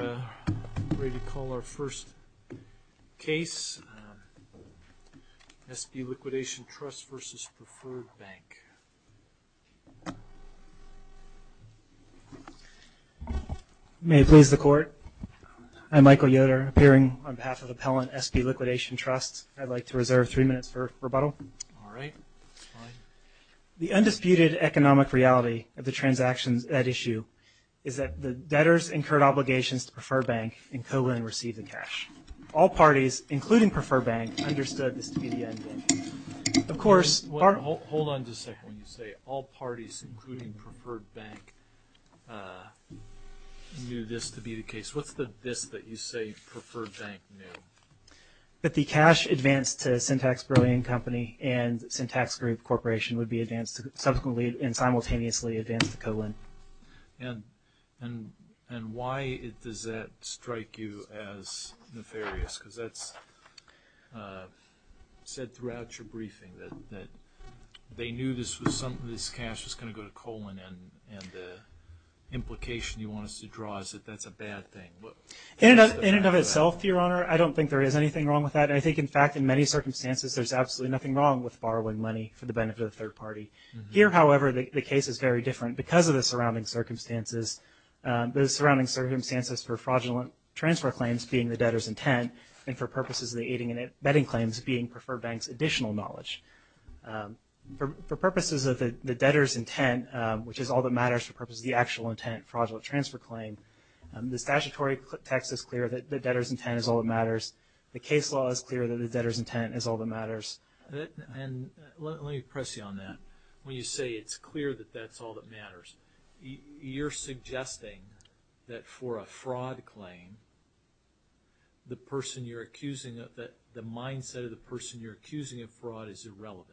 I'm ready to call our first case, SB Liquidation Trust versus Preferred Bank. May it please the Court, I'm Michael Yoder, appearing on behalf of Appellant SB Liquidation Trust. I'd like to reserve three minutes for rebuttal. All right. The undisputed economic reality of the transactions at issue is that the debtors incurred obligations to Preferred Bank and Co-Lin received the cash. All parties, including Preferred Bank, understood this to be the end game. Of course- Hold on just a second. When you say all parties, including Preferred Bank, knew this to be the case, what's the this that you say Preferred Bank knew? That the cash advanced to Syntax Brillian Company and Syntax Group Corporation would be subsequently and simultaneously advanced to Co-Lin. And why does that strike you as nefarious? Because that's said throughout your briefing, that they knew this cash was going to go to Co-Lin and the implication you want us to draw is that that's a bad thing. In and of itself, Your Honor, I don't think there is anything wrong with that. And I think, in fact, in many circumstances, there's absolutely nothing wrong with borrowing money for the benefit of the third party. Here, however, the case is very different because of the surrounding circumstances. The surrounding circumstances for fraudulent transfer claims being the debtor's intent and for purposes of the aiding and abetting claims being Preferred Bank's additional knowledge. For purposes of the debtor's intent, which is all that matters for purposes of the actual intent, fraudulent transfer claim, the statutory text is clear that the debtor's intent is all that matters. The case law is clear that the debtor's intent is all that matters. And let me press you on that. When you say it's clear that that's all that matters, you're suggesting that for a fraud claim, the mindset of the person you're accusing of fraud is irrelevant?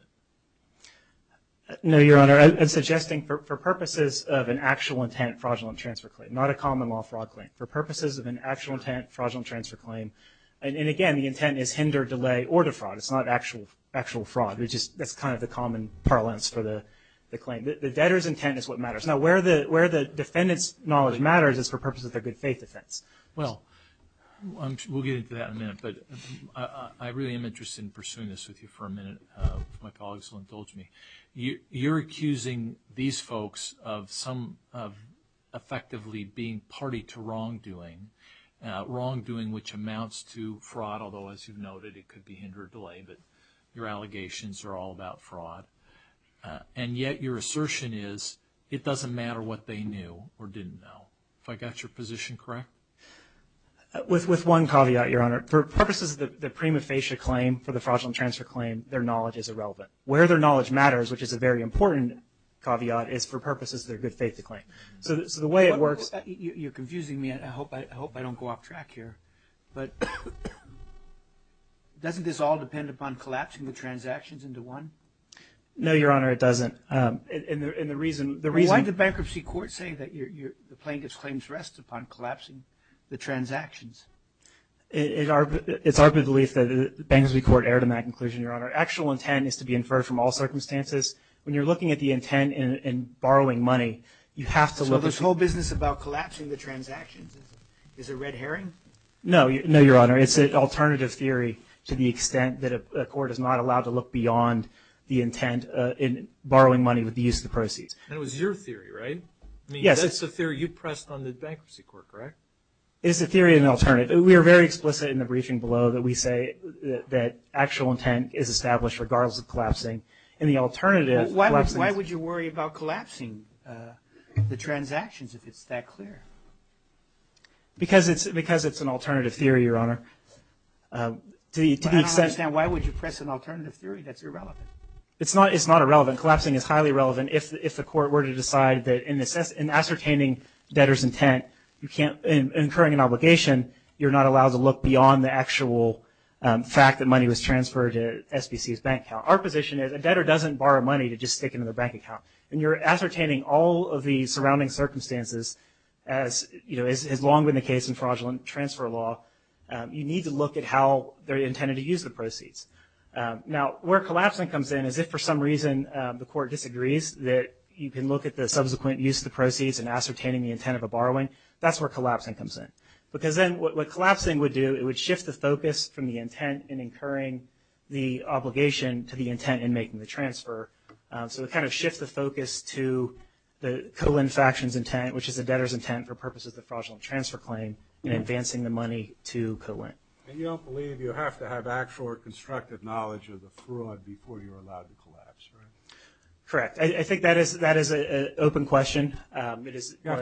No, Your Honor. I'm suggesting for purposes of an actual intent fraudulent transfer claim, not a common law fraud claim. For purposes of an actual intent fraudulent transfer claim. And, again, the intent is hinder, delay, or defraud. It's not actual fraud. It's just that's kind of the common parlance for the claim. The debtor's intent is what matters. Now, where the defendant's knowledge matters is for purposes of their good faith defense. Well, we'll get into that in a minute, but I really am interested in pursuing this with you for a minute. My colleagues will indulge me. You're accusing these folks of effectively being party to wrongdoing, wrongdoing which amounts to fraud, although, as you've noted, it could be hinder or delay. But your allegations are all about fraud. And yet your assertion is it doesn't matter what they knew or didn't know. Have I got your position correct? With one caveat, Your Honor. For purposes of the prima facie claim for the fraudulent transfer claim, their knowledge is irrelevant. Where their knowledge matters, which is a very important caveat, is for purposes of their good faith to claim. So the way it works – You're confusing me. I hope I don't go off track here. But doesn't this all depend upon collapsing the transactions into one? No, Your Honor, it doesn't. And the reason – Why did the bankruptcy court say that the plaintiff's claims rest upon collapsing the transactions? It's our belief that the bankruptcy court erred in that conclusion, Your Honor. Actual intent is to be inferred from all circumstances. When you're looking at the intent in borrowing money, you have to look – So this whole business about collapsing the transactions is a red herring? No, Your Honor. It's an alternative theory to the extent that a court is not allowed to look beyond the intent in borrowing money with the use of the proceeds. That was your theory, right? Yes. I mean, that's the theory you pressed on the bankruptcy court, correct? It's a theory and an alternative. We are very explicit in the briefing below that we say that actual intent is established regardless of collapsing. And the alternative – Why would you worry about collapsing the transactions if it's that clear? Because it's an alternative theory, Your Honor. To the extent – I don't understand. Why would you press an alternative theory that's irrelevant? It's not irrelevant. Collapsing is highly relevant. If the court were to decide that in ascertaining debtor's intent, in incurring an obligation, you're not allowed to look beyond the actual fact that money was transferred to SBC's bank account. Our position is a debtor doesn't borrow money to just stick it in their bank account. When you're ascertaining all of the surrounding circumstances, as has long been the case in fraudulent transfer law, you need to look at how they're intended to use the proceeds. Now, where collapsing comes in is if for some reason the court disagrees, that you can look at the subsequent use of the proceeds in ascertaining the intent of a borrowing. That's where collapsing comes in. Because then what collapsing would do, it would shift the focus from the intent in incurring the obligation to the intent in making the transfer. So it kind of shifts the focus to the co-lend faction's intent, which is the debtor's intent for purposes of the fraudulent transfer claim in advancing the money to co-lend. And you don't believe you have to have actual or constructive knowledge of the fraud before you're allowed to collapse, right? Correct. I think that is an open question. You have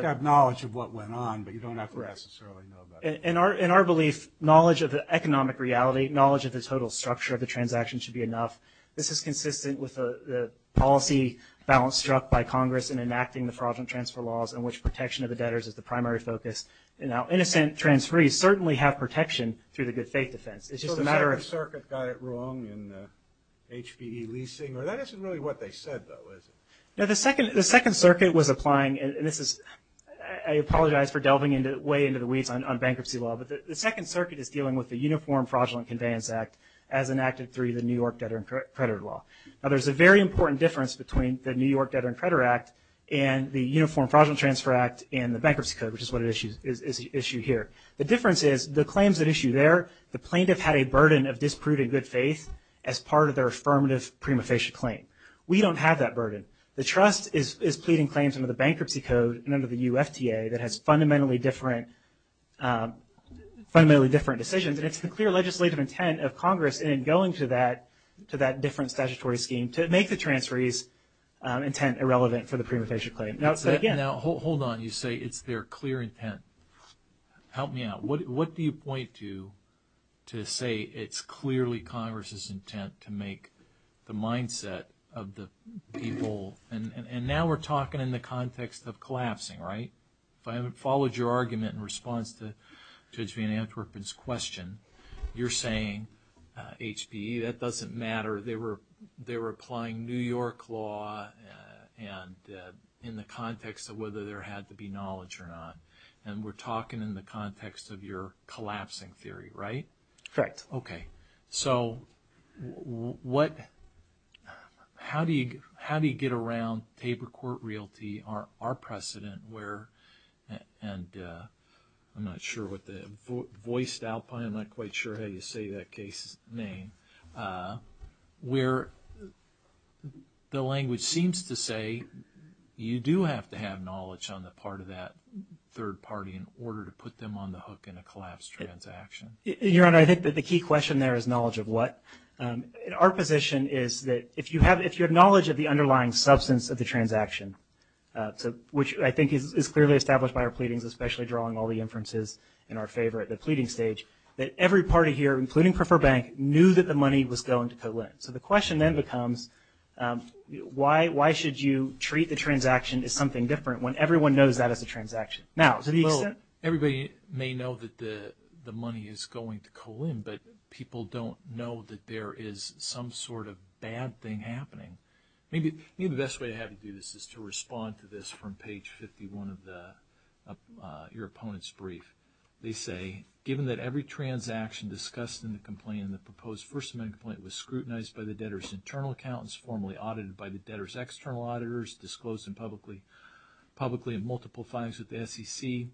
to have knowledge of what went on, but you don't have to necessarily know that. In our belief, knowledge of the economic reality, knowledge of the total structure of the transaction should be enough. This is consistent with the policy balance struck by Congress in enacting the fraudulent transfer laws, in which protection of the debtors is the primary focus. Now, innocent transferees certainly have protection through the good faith defense. So the Second Circuit got it wrong in HPE leasing? That isn't really what they said, though, is it? No, the Second Circuit was applying, and I apologize for delving way into the weeds on bankruptcy law, but the Second Circuit is dealing with the Uniform Fraudulent Conveyance Act as enacted through the New York Debtor and Creditor Law. Now, there's a very important difference between the New York Debtor and Creditor Act and the Uniform Fraudulent Transfer Act and the Bankruptcy Code, which is what is at issue here. The difference is the claims at issue there, the plaintiff had a burden of disproving good faith as part of their affirmative prima facie claim. We don't have that burden. The trust is pleading claims under the Bankruptcy Code and under the UFTA that has fundamentally different decisions, and it's the clear legislative intent of Congress in going to that different statutory scheme to make the transferee's intent irrelevant for the prima facie claim. Now, hold on. You say it's their clear intent. Help me out. What do you point to to say it's clearly Congress's intent to make the mindset of the people, and now we're talking in the context of collapsing, right? If I haven't followed your argument in response to Judge Van Antwerpen's question, you're saying HPE, that doesn't matter. They were applying New York law in the context of whether there had to be knowledge or not, and we're talking in the context of your collapsing theory, right? Correct. Okay. So how do you get around Tabor Court Realty, our precedent where, and I'm not sure what the voiced alpine, I'm not quite sure how you say that case's name, where the language seems to say you do have to have knowledge on the part of that third party in order to put them on the hook in a collapse transaction? Your Honor, I think that the key question there is knowledge of what? Our position is that if you have knowledge of the underlying substance of the transaction, which I think is clearly established by our pleadings, especially drawing all the inferences in our favor at the pleading stage, that every party here, including Prefer Bank, knew that the money was going to Colin. So the question then becomes why should you treat the transaction as something different when everyone knows that as a transaction? Now, to the extent – Well, everybody may know that the money is going to Colin, but people don't know that there is some sort of bad thing happening. Maybe the best way to have you do this is to respond to this from page 51 of your opponent's brief. They say, given that every transaction discussed in the complaint in the proposed First Amendment complaint was scrutinized by the debtor's internal accountants, formally audited by the debtor's external auditors, disclosed publicly in multiple files with the SEC,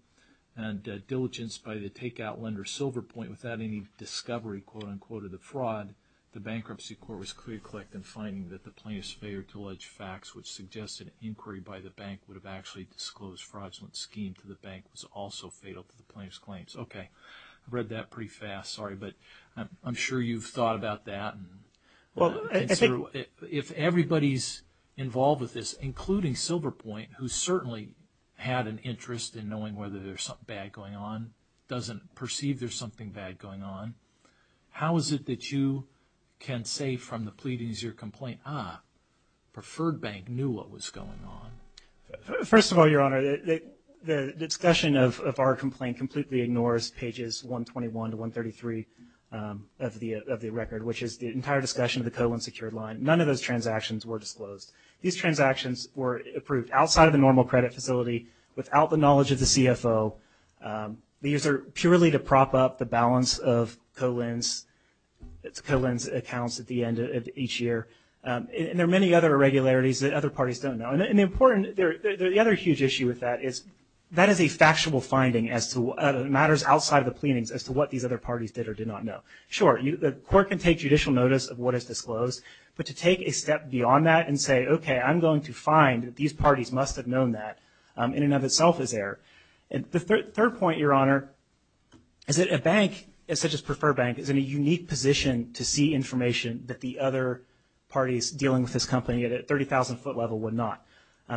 and diligence by the take-out lender Silverpoint without any discovery, quote-unquote, of the fraud, the bankruptcy court was clear-clicked in finding that the plaintiff's failure to allege facts which suggested inquiry by the bank would have actually disclosed fraudulent scheme to the bank was also fatal to the plaintiff's claims. Okay. I read that pretty fast. Sorry. But I'm sure you've thought about that. If everybody's involved with this, including Silverpoint, who certainly had an interest in knowing whether there's something bad going on, doesn't perceive there's something bad going on, how is it that you can say from the pleadings of your complaint, ah, Preferred Bank knew what was going on? First of all, Your Honor, the discussion of our complaint completely ignores pages 121 to 133 of the record, which is the entire discussion of the Cohen secured line. None of those transactions were disclosed. These transactions were approved outside of the normal credit facility, without the knowledge of the CFO. These are purely to prop up the balance of Cohen's accounts at the end of each year. And there are many other irregularities that other parties don't know. And the other huge issue with that is that is a factual finding as to what matters outside of the pleadings as to what these other parties did or did not know. Sure, the court can take judicial notice of what is disclosed, but to take a step beyond that and say, okay, I'm going to find that these parties must have known that, in and of itself is error. And the third point, Your Honor, is that a bank such as Preferred Bank is in a unique position to see information that the other parties dealing with this company at a 30,000-foot level would not.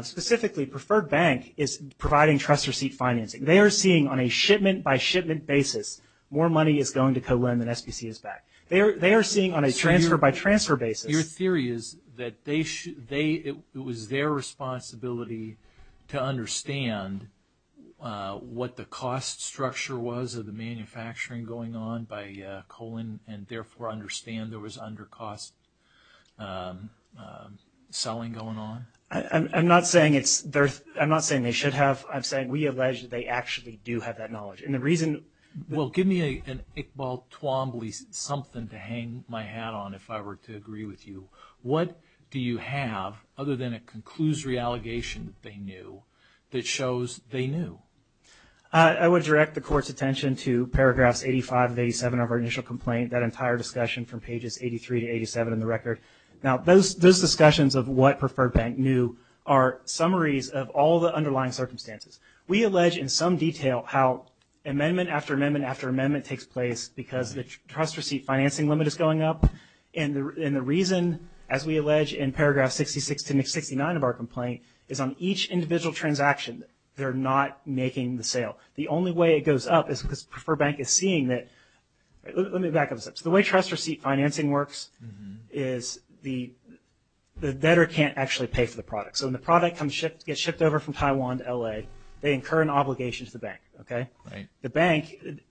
Specifically, Preferred Bank is providing trust receipt financing. They are seeing on a shipment-by-shipment basis more money is going to Cohen than SBC is back. They are seeing on a transfer-by-transfer basis. Your theory is that it was their responsibility to understand what the cost structure was of the manufacturing going on by Cohen and therefore understand there was under-cost selling going on? I'm not saying they should have. I'm saying we allege that they actually do have that knowledge. Well, give me an Iqbal Twombly something to hang my hat on if I were to agree with you. What do you have, other than a conclusory allegation that they knew, that shows they knew? I would direct the Court's attention to paragraphs 85 and 87 of our initial complaint, that entire discussion from pages 83 to 87 in the record. Now, those discussions of what Preferred Bank knew are summaries of all the underlying circumstances. We allege in some detail how amendment after amendment after amendment takes place because the trust receipt financing limit is going up. And the reason, as we allege in paragraph 66 to 69 of our complaint, is on each individual transaction, they're not making the sale. The only way it goes up is because Preferred Bank is seeing that – let me back up a step. So the way trust receipt financing works is the debtor can't actually pay for the product. So when the product gets shipped over from Taiwan to L.A., they incur an obligation to the bank.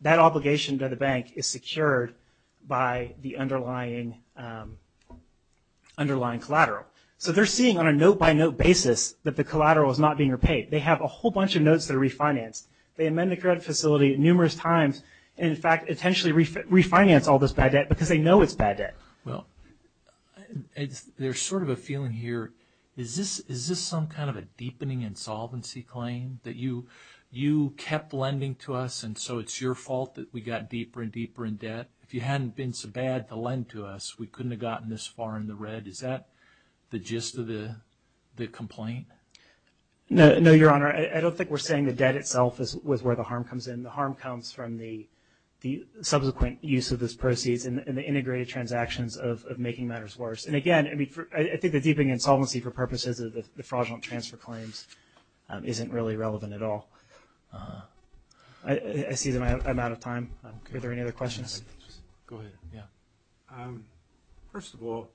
That obligation to the bank is secured by the underlying collateral. So they're seeing on a note-by-note basis that the collateral is not being repaid. They have a whole bunch of notes that are refinanced. They amend the credit facility numerous times and, in fact, intentionally refinance all this bad debt because they know it's bad debt. Well, there's sort of a feeling here. Is this some kind of a deepening insolvency claim that you kept lending to us and so it's your fault that we got deeper and deeper in debt? If you hadn't been so bad to lend to us, we couldn't have gotten this far in the red. Is that the gist of the complaint? No, Your Honor. I don't think we're saying the debt itself is where the harm comes in. The harm comes from the subsequent use of those proceeds and the integrated transactions of making matters worse. And, again, I think the deepening insolvency for purposes of the fraudulent transfer claims isn't really relevant at all. I see that I'm out of time. Are there any other questions? First of all,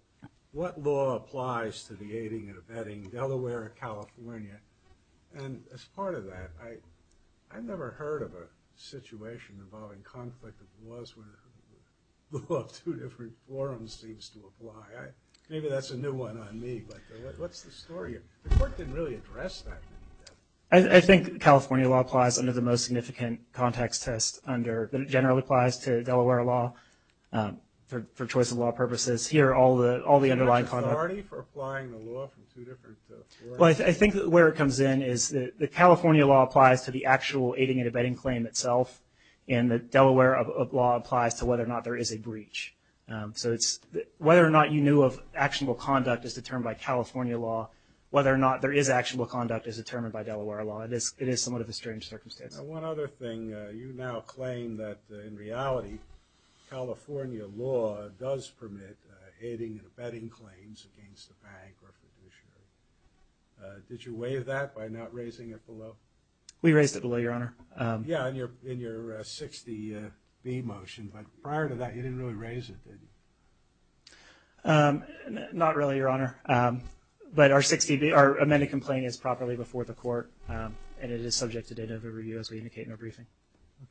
what law applies to the aiding and abetting Delaware or California? And as part of that, I've never heard of a situation involving conflict of laws where the law of two different forums seems to apply. Maybe that's a new one on me, but what's the story? The Court didn't really address that. I think California law applies under the most significant context test that it generally applies to Delaware law for choice of law purposes. Here, all the underlying conduct. Is there a party for applying the law from two different forums? Well, I think where it comes in is the California law applies to the actual aiding and abetting claim itself, and the Delaware law applies to whether or not there is a breach. So whether or not you knew of actionable conduct is determined by California law, whether or not there is actionable conduct is determined by Delaware law. It is somewhat of a strange circumstance. One other thing. You now claim that, in reality, California law does permit aiding and abetting claims against a bank or a fiduciary. Did you waive that by not raising it below? We raised it below, Your Honor. Yeah, in your 60B motion. But prior to that, you didn't really raise it, did you? Not really, Your Honor. But our 60B, our amended complaint is properly before the Court, and it is subject to date of review, as we indicate in our briefing.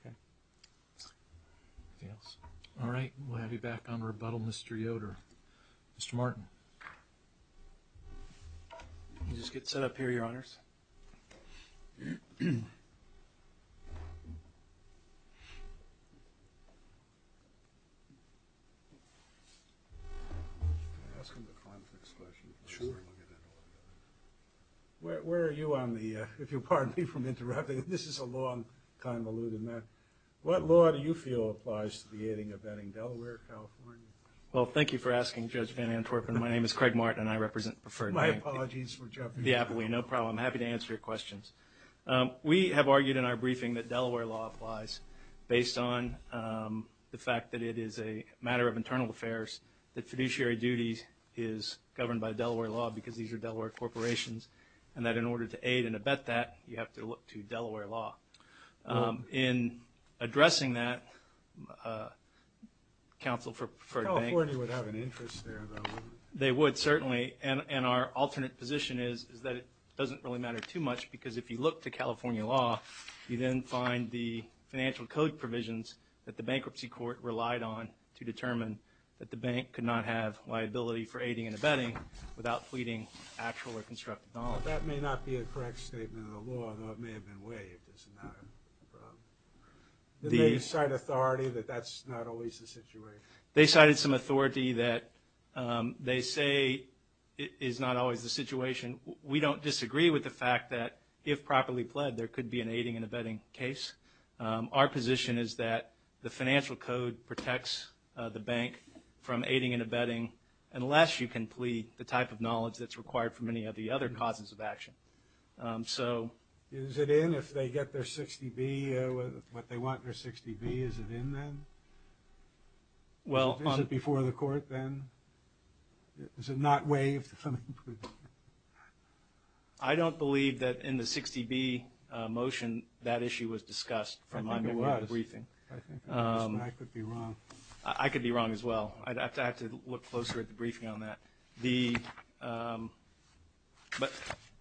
Okay. Anything else? All right. We'll have you back on rebuttal, Mr. Yoder. Mr. Martin. Can you just get set up here, Your Honors? Can I ask him the context question? Sure. Where are you on the ‑‑ if you'll pardon me for interrupting. This is a long, convoluted matter. What law do you feel applies to the aiding and abetting Delaware, California? Well, thank you for asking, Judge Van Antwerpen. My name is Craig Martin, and I represent Preferred Bank. My apologies for jumping. Yeah, no problem. I'm happy to answer your questions. We have argued in our briefing that Delaware law applies based on the fact that it is a matter of internal affairs that fiduciary duties is governed by Delaware law because these are Delaware corporations, and that in order to aid and abet that, you have to look to Delaware law. In addressing that, counsel for Preferred Bank ‑‑ California would have an interest there, though. They would, certainly. And our alternate position is that it doesn't really matter too much, because if you look to California law, you then find the financial code provisions that the bankruptcy court relied on to determine that the bank could not have liability for aiding and abetting without pleading actual or constructive knowledge. That may not be a correct statement of the law, though it may have been way if it's not. Did they cite authority that that's not always the situation? They cited some authority that they say is not always the situation. We don't disagree with the fact that if properly pled, there could be an aiding and abetting case. Our position is that the financial code protects the bank from aiding and abetting unless you can plead the type of knowledge that's required from any of the other causes of action. Is it in if they get their 60B, what they want in their 60B? Is it in then? Is it before the court then? Is it not waived? I don't believe that in the 60B motion, that issue was discussed from my new briefing. I could be wrong as well. I'd have to look closer at the briefing on that. But,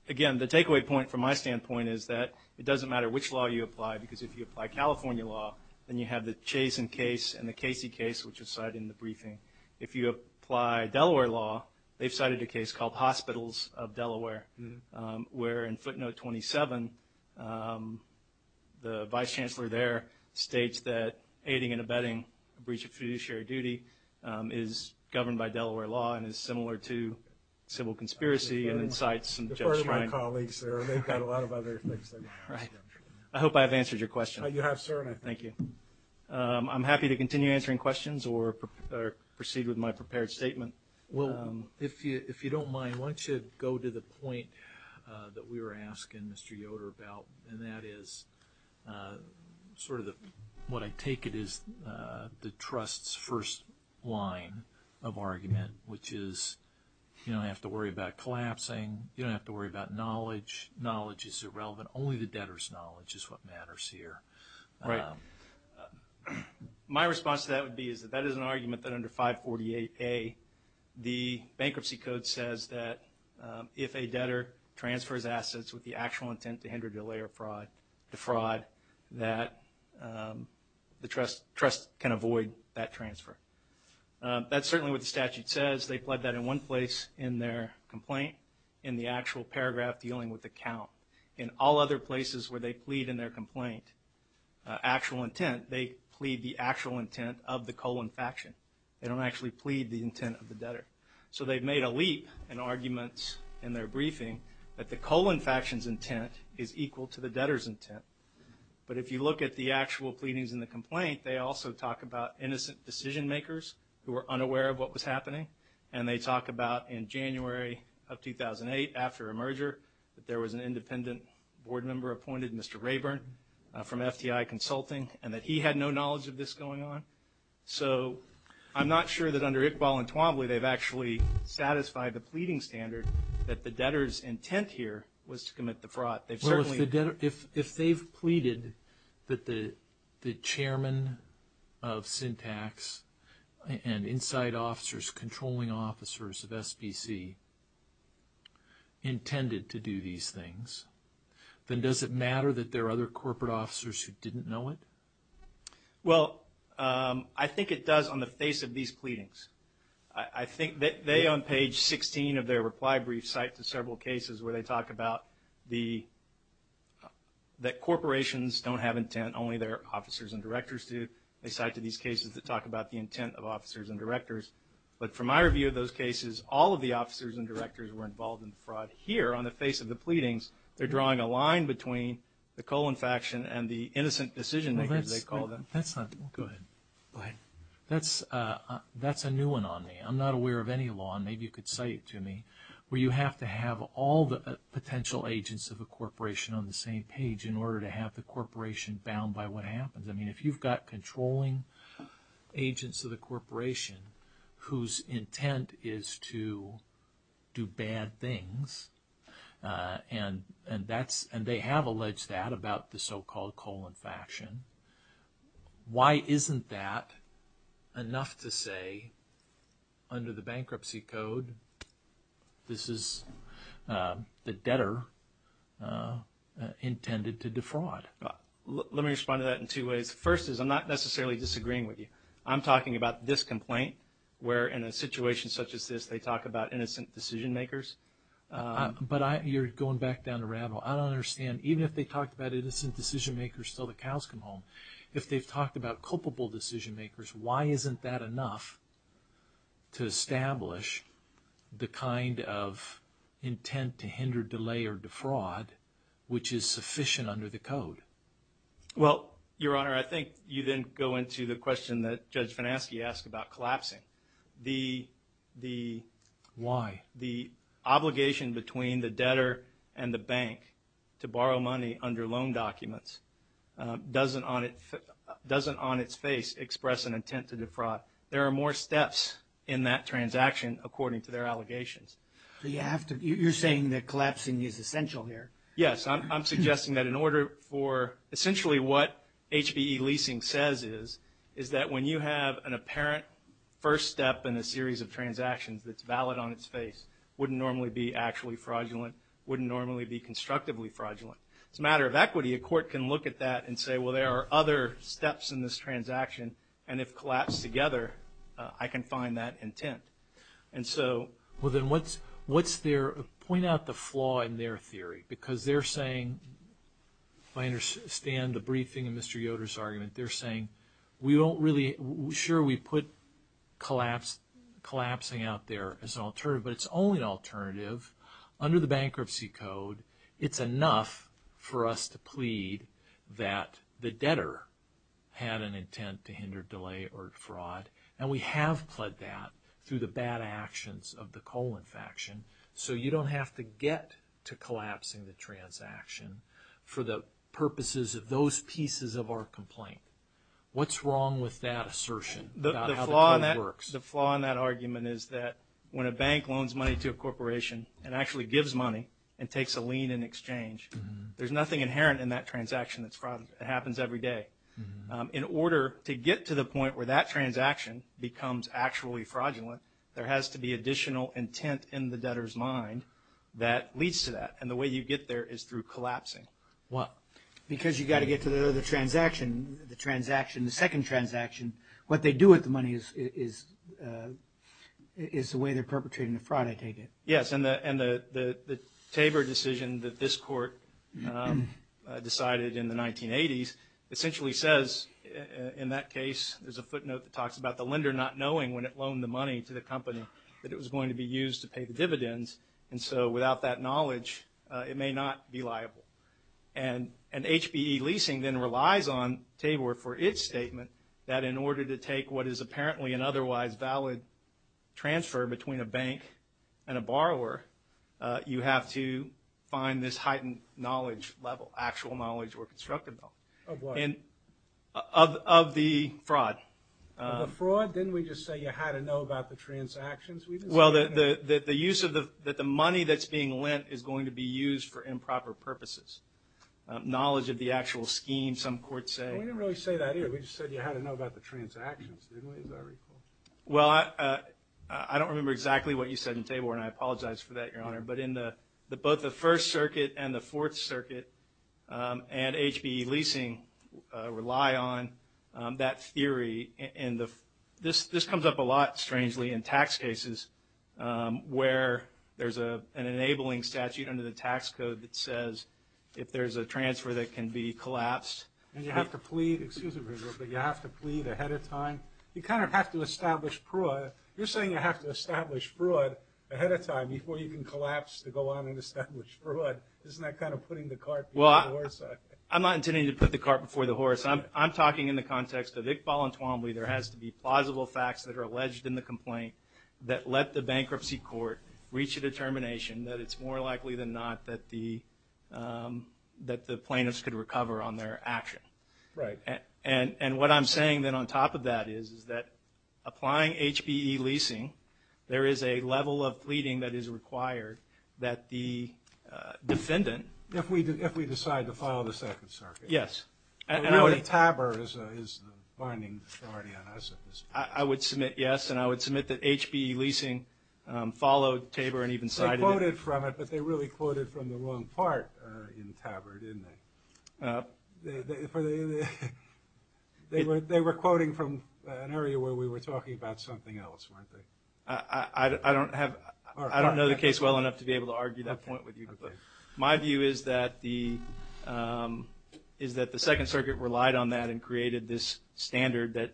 again, the takeaway point from my standpoint is that it doesn't matter which law you apply because if you apply California law, then you have the Chase and Case and the Casey case, which is cited in the briefing. If you apply Delaware law, they've cited a case called Hospitals of Delaware, where in footnote 27, the vice chancellor there states that aiding and abetting a breach of fiduciary duty is governed by Delaware law and is similar to civil conspiracy and incites some judgment. Defer to my colleagues there. They've got a lot of other things. Right. I hope I have answered your question. You have, sir. Thank you. I'm happy to continue answering questions or proceed with my prepared statement. Well, if you don't mind, why don't you go to the point that we were asking Mr. Yoder about, and that is sort of what I take it is the trust's first line of argument, which is you don't have to worry about collapsing. You don't have to worry about knowledge. Knowledge is irrelevant. Only the debtor's knowledge is what matters here. Right. My response to that would be is that that is an argument that under 548A, the bankruptcy code says that if a debtor transfers assets with the actual intent to hinder, delay, or defraud, that the trust can avoid that transfer. That's certainly what the statute says. They pled that in one place in their complaint, in the actual paragraph dealing with the count. In all other places where they plead in their complaint, actual intent, they plead the actual intent of the colon faction. They don't actually plead the intent of the debtor. So they've made a leap in arguments in their briefing that the colon faction's intent is equal to the debtor's intent. But if you look at the actual pleadings in the complaint, they also talk about innocent decision makers who are unaware of what was happening, and they talk about in January of 2008, after a merger, that there was an independent board member appointed, Mr. Rayburn, from FTI Consulting, and that he had no knowledge of this going on. So I'm not sure that under Iqbal and Twombly, they've actually satisfied the pleading standard that the debtor's intent here was to commit the fraud. Well, if they've pleaded that the chairman of Syntax and inside officers, controlling officers of SBC, intended to do these things, then does it matter that there are other corporate officers who didn't know it? Well, I think it does on the face of these pleadings. I think they, on page 16 of their reply brief, cite to several cases where they talk about that corporations don't have intent, only their officers and directors do. They cite to these cases that talk about the intent of officers and directors. But from my review of those cases, all of the officers and directors were involved in the fraud. Here, on the face of the pleadings, they're drawing a line between the colon faction and the innocent decision makers, they call them. Go ahead. Go ahead. That's a new one on me. I'm not aware of any law, and maybe you could cite it to me, where you have to have all the potential agents of a corporation on the same page in order to have the corporation bound by what happens. I mean, if you've got controlling agents of the corporation whose intent is to do bad things, and they have alleged that about the so-called colon faction, why isn't that enough to say, under the bankruptcy code, this is the debtor intended to defraud? Let me respond to that in two ways. First is, I'm not necessarily disagreeing with you. I'm talking about this complaint, where in a situation such as this, they talk about innocent decision makers. But you're going back down the rabbit hole. I don't understand. Even if they talked about innocent decision makers until the cows come home, if they've talked about culpable decision makers, why isn't that enough to establish the kind of intent to hinder, delay, or defraud which is sufficient under the code? Well, Your Honor, I think you then go into the question that Judge Finansky asked about collapsing. Why? The obligation between the debtor and the bank to borrow money under loan documents doesn't on its face express an intent to defraud. There are more steps in that transaction according to their allegations. You're saying that collapsing is essential here. Yes. I'm suggesting that in order for essentially what HBE leasing says is, is that when you have an apparent first step in a series of transactions that's valid on its face, wouldn't normally be actually fraudulent, wouldn't normally be constructively fraudulent. It's a matter of equity. A court can look at that and say, well, there are other steps in this transaction, and if collapsed together, I can find that intent. Well, then, point out the flaw in their theory because they're saying, if I understand the briefing in Mr. Yoder's argument, they're saying, sure, we put collapsing out there as an alternative, but it's only an alternative. Under the bankruptcy code, it's enough for us to plead that the debtor had an intent to hinder, delay, or defraud, and we have pled that through the bad actions of the coal infraction, so you don't have to get to collapsing the transaction for the purposes of those pieces of our complaint. What's wrong with that assertion about how the code works? The flaw in that argument is that when a bank loans money to a corporation and actually gives money and takes a lien in exchange, there's nothing inherent in that transaction that happens every day. In order to get to the point where that transaction becomes actually fraudulent, there has to be additional intent in the debtor's mind that leads to that, and the way you get there is through collapsing. Why? Because you've got to get to the other transaction, the transaction, the second transaction. What they do with the money is the way they're perpetrating the fraud, I take it. Yes, and the Tabor decision that this court decided in the 1980s essentially says, in that case, there's a footnote that talks about the lender not knowing when it loaned the money to the company that it was going to be used to pay the dividends, and so without that knowledge it may not be liable. And HBE leasing then relies on Tabor for its statement that in order to take what is apparently an otherwise valid transfer between a bank and a borrower, you have to find this heightened knowledge level, actual knowledge or constructive level. Of what? Of the fraud. The fraud? Didn't we just say you had to know about the transactions? Well, the use of the money that's being lent is going to be used for improper purposes. Knowledge of the actual scheme, some courts say. We didn't really say that either. We just said you had to know about the transactions, didn't we, as I recall. Well, I don't remember exactly what you said in Tabor, and I apologize for that, Your Honor, but both the First Circuit and the Fourth Circuit and HBE leasing rely on that theory. This comes up a lot, strangely, in tax cases where there's an enabling statute under the tax code that says if there's a transfer that can be collapsed. And you have to plead, excuse me, but you have to plead ahead of time. You kind of have to establish fraud. You're saying you have to establish fraud ahead of time before you can collapse to go on and establish fraud. Isn't that kind of putting the cart before the horse? I'm not intending to put the cart before the horse. I'm talking in the context of Iqbal and Twombly. There has to be plausible facts that are alleged in the complaint that let the bankruptcy court reach a determination that it's more likely than not that the plaintiffs could recover on their action. Right. And what I'm saying then on top of that is that applying HBE leasing, there is a level of pleading that is required that the defendant. If we decide to file the Second Circuit. Yes. Tabard is the binding authority on us at this point. I would submit yes, and I would submit that HBE leasing followed Tabard and even cited it. They quoted from it, but they really quoted from the wrong part in Tabard, didn't they? They were quoting from an area where we were talking about something else, weren't they? I don't know the case well enough to be able to argue that point with you, but my view is that the Second Circuit relied on that and created this standard that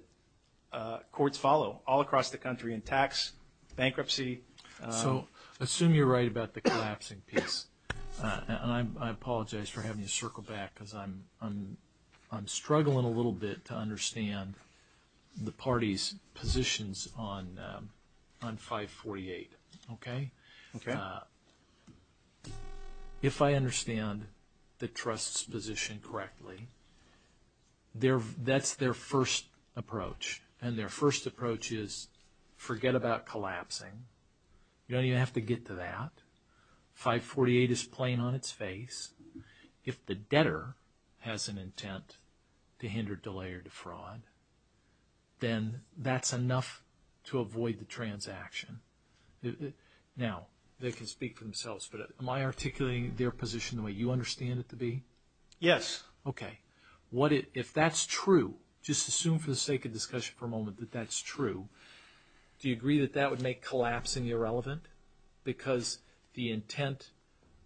courts follow all across the country in tax, bankruptcy. So assume you're right about the collapsing piece, and I apologize for having to circle back because I'm struggling a little bit to understand the party's positions on 548, okay? Okay. If I understand the trust's position correctly, that's their first approach, and their first approach is forget about collapsing. You don't even have to get to that. 548 is plain on its face. If the debtor has an intent to hinder, delay, or defraud, then that's enough to avoid the transaction. Now, they can speak for themselves, but am I articulating their position the way you understand it to be? Yes. Okay. If that's true, just assume for the sake of discussion for a moment that that's true, do you agree that that would make collapsing irrelevant? Because the intent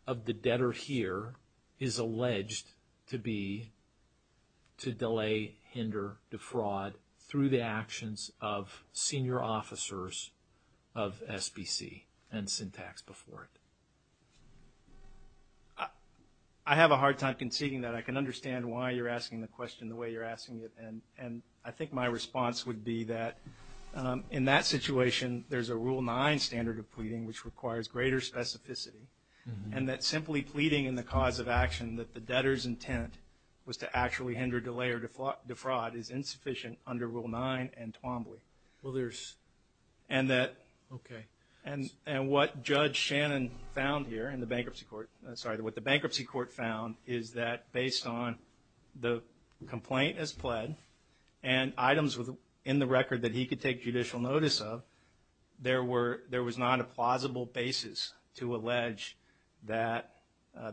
of the debtor here is alleged to be to delay, hinder, defraud, through the actions of senior officers of SBC and Syntax before it. I have a hard time conceding that. I can understand why you're asking the question the way you're asking it, and I think my response would be that in that situation, there's a Rule 9 standard of pleading which requires greater specificity, and that simply pleading in the cause of action that the debtor's intent was to actually hinder, delay, or defraud is insufficient under Rule 9 and Twombly. Well, there's – okay. And what Judge Shannon found here in the bankruptcy court – sorry, what the bankruptcy court found is that based on the complaint as pled and items in the record that he could take judicial notice of, there was not a plausible basis to allege that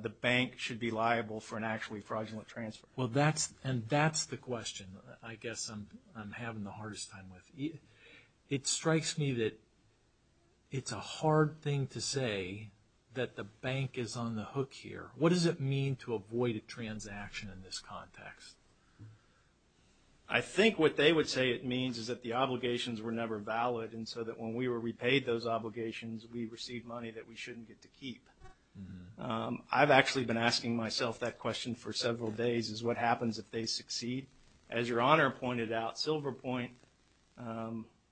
the bank should be liable for an actually fraudulent transfer. Well, that's – and that's the question I guess I'm having the hardest time with. It strikes me that it's a hard thing to say that the bank is on the hook here. What does it mean to avoid a transaction in this context? I think what they would say it means is that the obligations were never valid, and so that when we were repaid those obligations, we received money that we shouldn't get to keep. I've actually been asking myself that question for several days, is what happens if they succeed. As Your Honor pointed out, Silverpoint,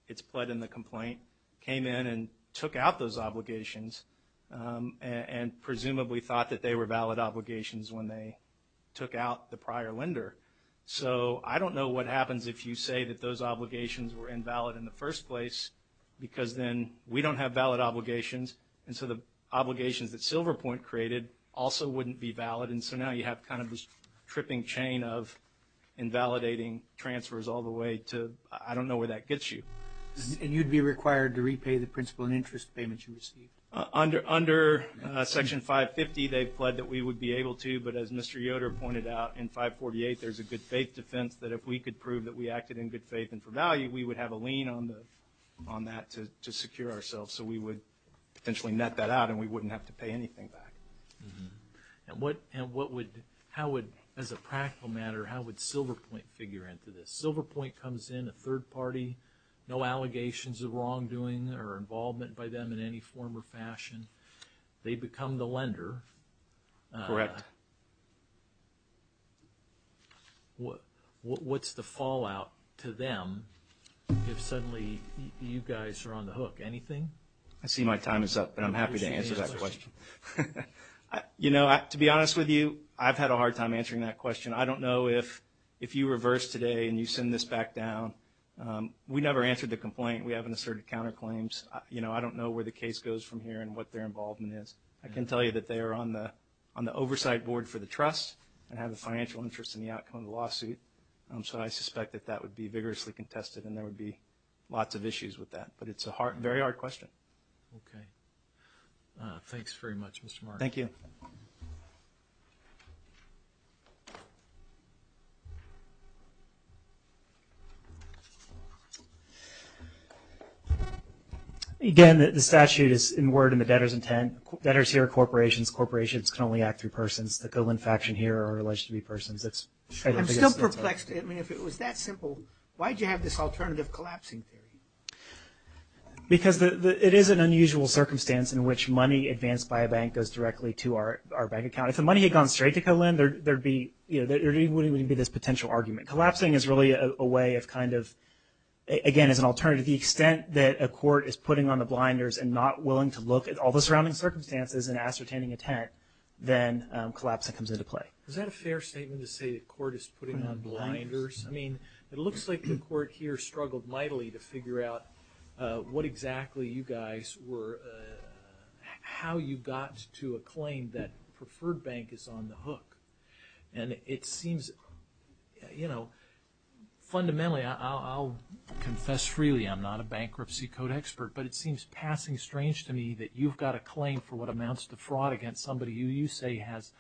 it's pled in the complaint, Silverpoint came in and took out those obligations and presumably thought that they were valid obligations when they took out the prior lender. So I don't know what happens if you say that those obligations were invalid in the first place because then we don't have valid obligations, and so the obligations that Silverpoint created also wouldn't be valid, and so now you have kind of this tripping chain of invalidating transfers all the way to – I don't know where that gets you. And you'd be required to repay the principal and interest payment you received? Under Section 550, they've pled that we would be able to, but as Mr. Yoder pointed out, in 548 there's a good faith defense that if we could prove that we acted in good faith and for value, we would have a lien on that to secure ourselves so we would potentially net that out and we wouldn't have to pay anything back. And what would – how would, as a practical matter, how would Silverpoint figure into this? If Silverpoint comes in, a third party, no allegations of wrongdoing or involvement by them in any form or fashion, they become the lender. Correct. What's the fallout to them if suddenly you guys are on the hook? Anything? I see my time is up, but I'm happy to answer that question. You know, to be honest with you, I've had a hard time answering that question. I don't know if you reverse today and you send this back down. We never answered the complaint. We haven't asserted counterclaims. You know, I don't know where the case goes from here and what their involvement is. I can tell you that they are on the oversight board for the trust and have a financial interest in the outcome of the lawsuit, so I suspect that that would be vigorously contested and there would be lots of issues with that. But it's a very hard question. Okay. Thanks very much, Mr. Marks. Thank you. Again, the statute is in word and the debtor's intent. Debtors here are corporations. Corporations can only act through persons. The Kolin faction here are alleged to be persons. I'm still perplexed. I mean, if it was that simple, why did you have this alternative collapsing theory? Because it is an unusual circumstance in which money advanced by a bank goes directly to our bank account. If the money had gone straight to Kolin, there wouldn't even be this potential argument. Collapsing is really a way of kind of, again, as an alternative, the extent that a court is putting on the blinders and not willing to look at all the surrounding circumstances and ascertaining intent, then collapsing comes into play. Is that a fair statement to say the court is putting on blinders? I mean, it looks like the court here struggled mightily to figure out what exactly you guys were, how you got to a claim that preferred bank is on the hook. And it seems, you know, fundamentally, I'll confess freely, I'm not a bankruptcy code expert, but it seems passing strange to me that you've got a claim for what amounts to fraud against somebody who you say has,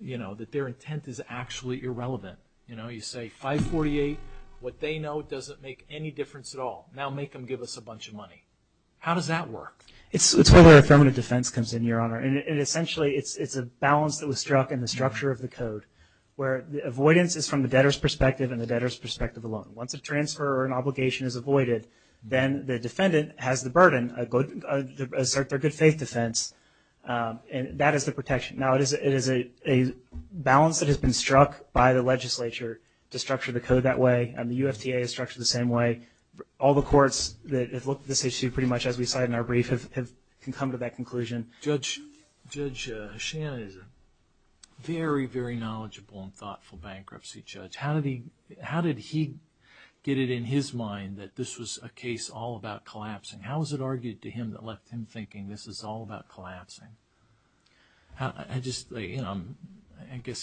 you know, that their intent is actually irrelevant. You know, you say 548, what they know doesn't make any difference at all. Now make them give us a bunch of money. How does that work? It's where the affirmative defense comes in, Your Honor. And essentially, it's a balance that was struck in the structure of the code where the avoidance is from the debtor's perspective and the debtor's perspective alone. Once a transfer or an obligation is avoided, then the defendant has the burden, assert their good faith defense, and that is the protection. Now it is a balance that has been struck by the legislature to structure the code that way, and the UFTA is structured the same way. All the courts that have looked at this issue pretty much as we cited in our brief have come to that conclusion. Judge Shannon is a very, very knowledgeable and thoughtful bankruptcy judge. How did he get it in his mind that this was a case all about collapsing? How was it argued to him that left him thinking this is all about collapsing? I guess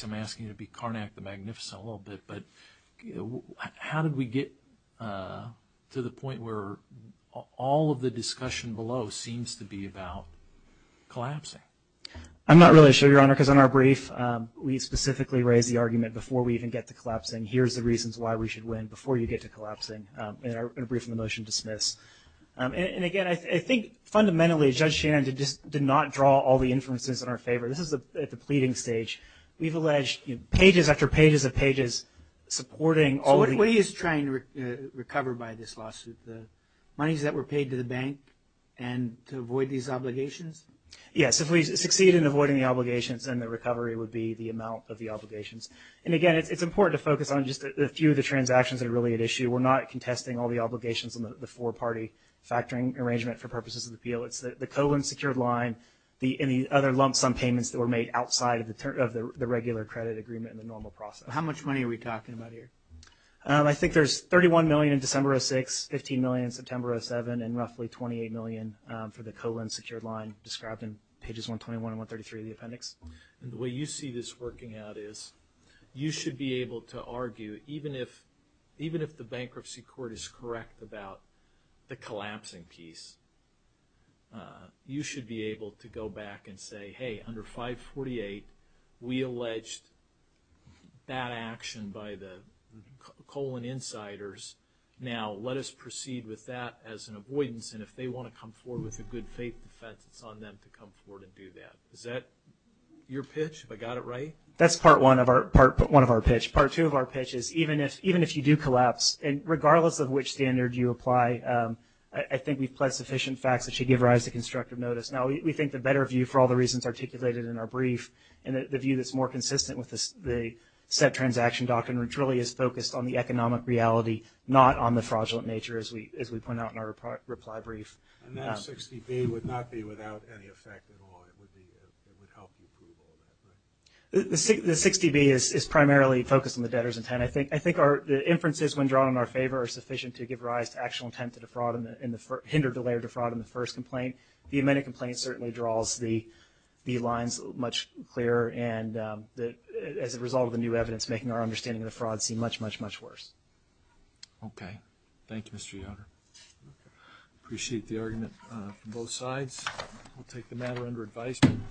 I'm asking you to be Carnac the Magnificent a little bit, but how did we get to the point where all of the discussion below seems to be about collapsing? I'm not really sure, Your Honor, because in our brief, we specifically raise the argument before we even get to collapsing, here's the reasons why we should win before you get to collapsing, in our brief on the motion to dismiss. And again, I think fundamentally Judge Shannon did not draw all the inferences in our favor. This is at the pleading stage. We've alleged pages after pages of pages supporting all of the- So what he is trying to recover by this lawsuit, the monies that were paid to the bank and to avoid these obligations? Yes, if we succeed in avoiding the obligations, then the recovery would be the amount of the obligations. And again, it's important to focus on just a few of the transactions that are really at issue. We're not contesting all the obligations on the four-party factoring arrangement for purposes of the appeal. It's the colon secured line and the other lump sum payments that were made outside of the regular credit agreement in the normal process. How much money are we talking about here? I think there's $31 million in December 2006, $15 million in September 2007, and roughly $28 million for the colon secured line described in pages 121 and 133 of the appendix. And the way you see this working out is you should be able to argue, even if the bankruptcy court is correct about the collapsing piece, you should be able to go back and say, hey, under 548 we alleged bad action by the colon insiders. Now let us proceed with that as an avoidance, and if they want to come forward with a good faith defense, it's on them to come forward and do that. Is that your pitch? Have I got it right? That's part one of our pitch. Part two of our pitch is even if you do collapse, regardless of which standard you apply, I think we've pled sufficient facts that should give rise to constructive notice. Now we think the better view, for all the reasons articulated in our brief, and the view that's more consistent with the set transaction doctrine, which really is focused on the economic reality, not on the fraudulent nature, as we point out in our reply brief. And that 60B would not be without any effect at all. It would help you prove all that, right? The 60B is primarily focused on the debtor's intent. I think the inferences when drawn in our favor are sufficient to give rise to actual intent to hinder, delay, or defraud in the first complaint. The amended complaint certainly draws the lines much clearer, and as a result of the new evidence, making our understanding of the fraud seem much, much, much worse. Okay. Thank you, Mr. Yoder. Appreciate the argument from both sides. We'll take the matter under advisement.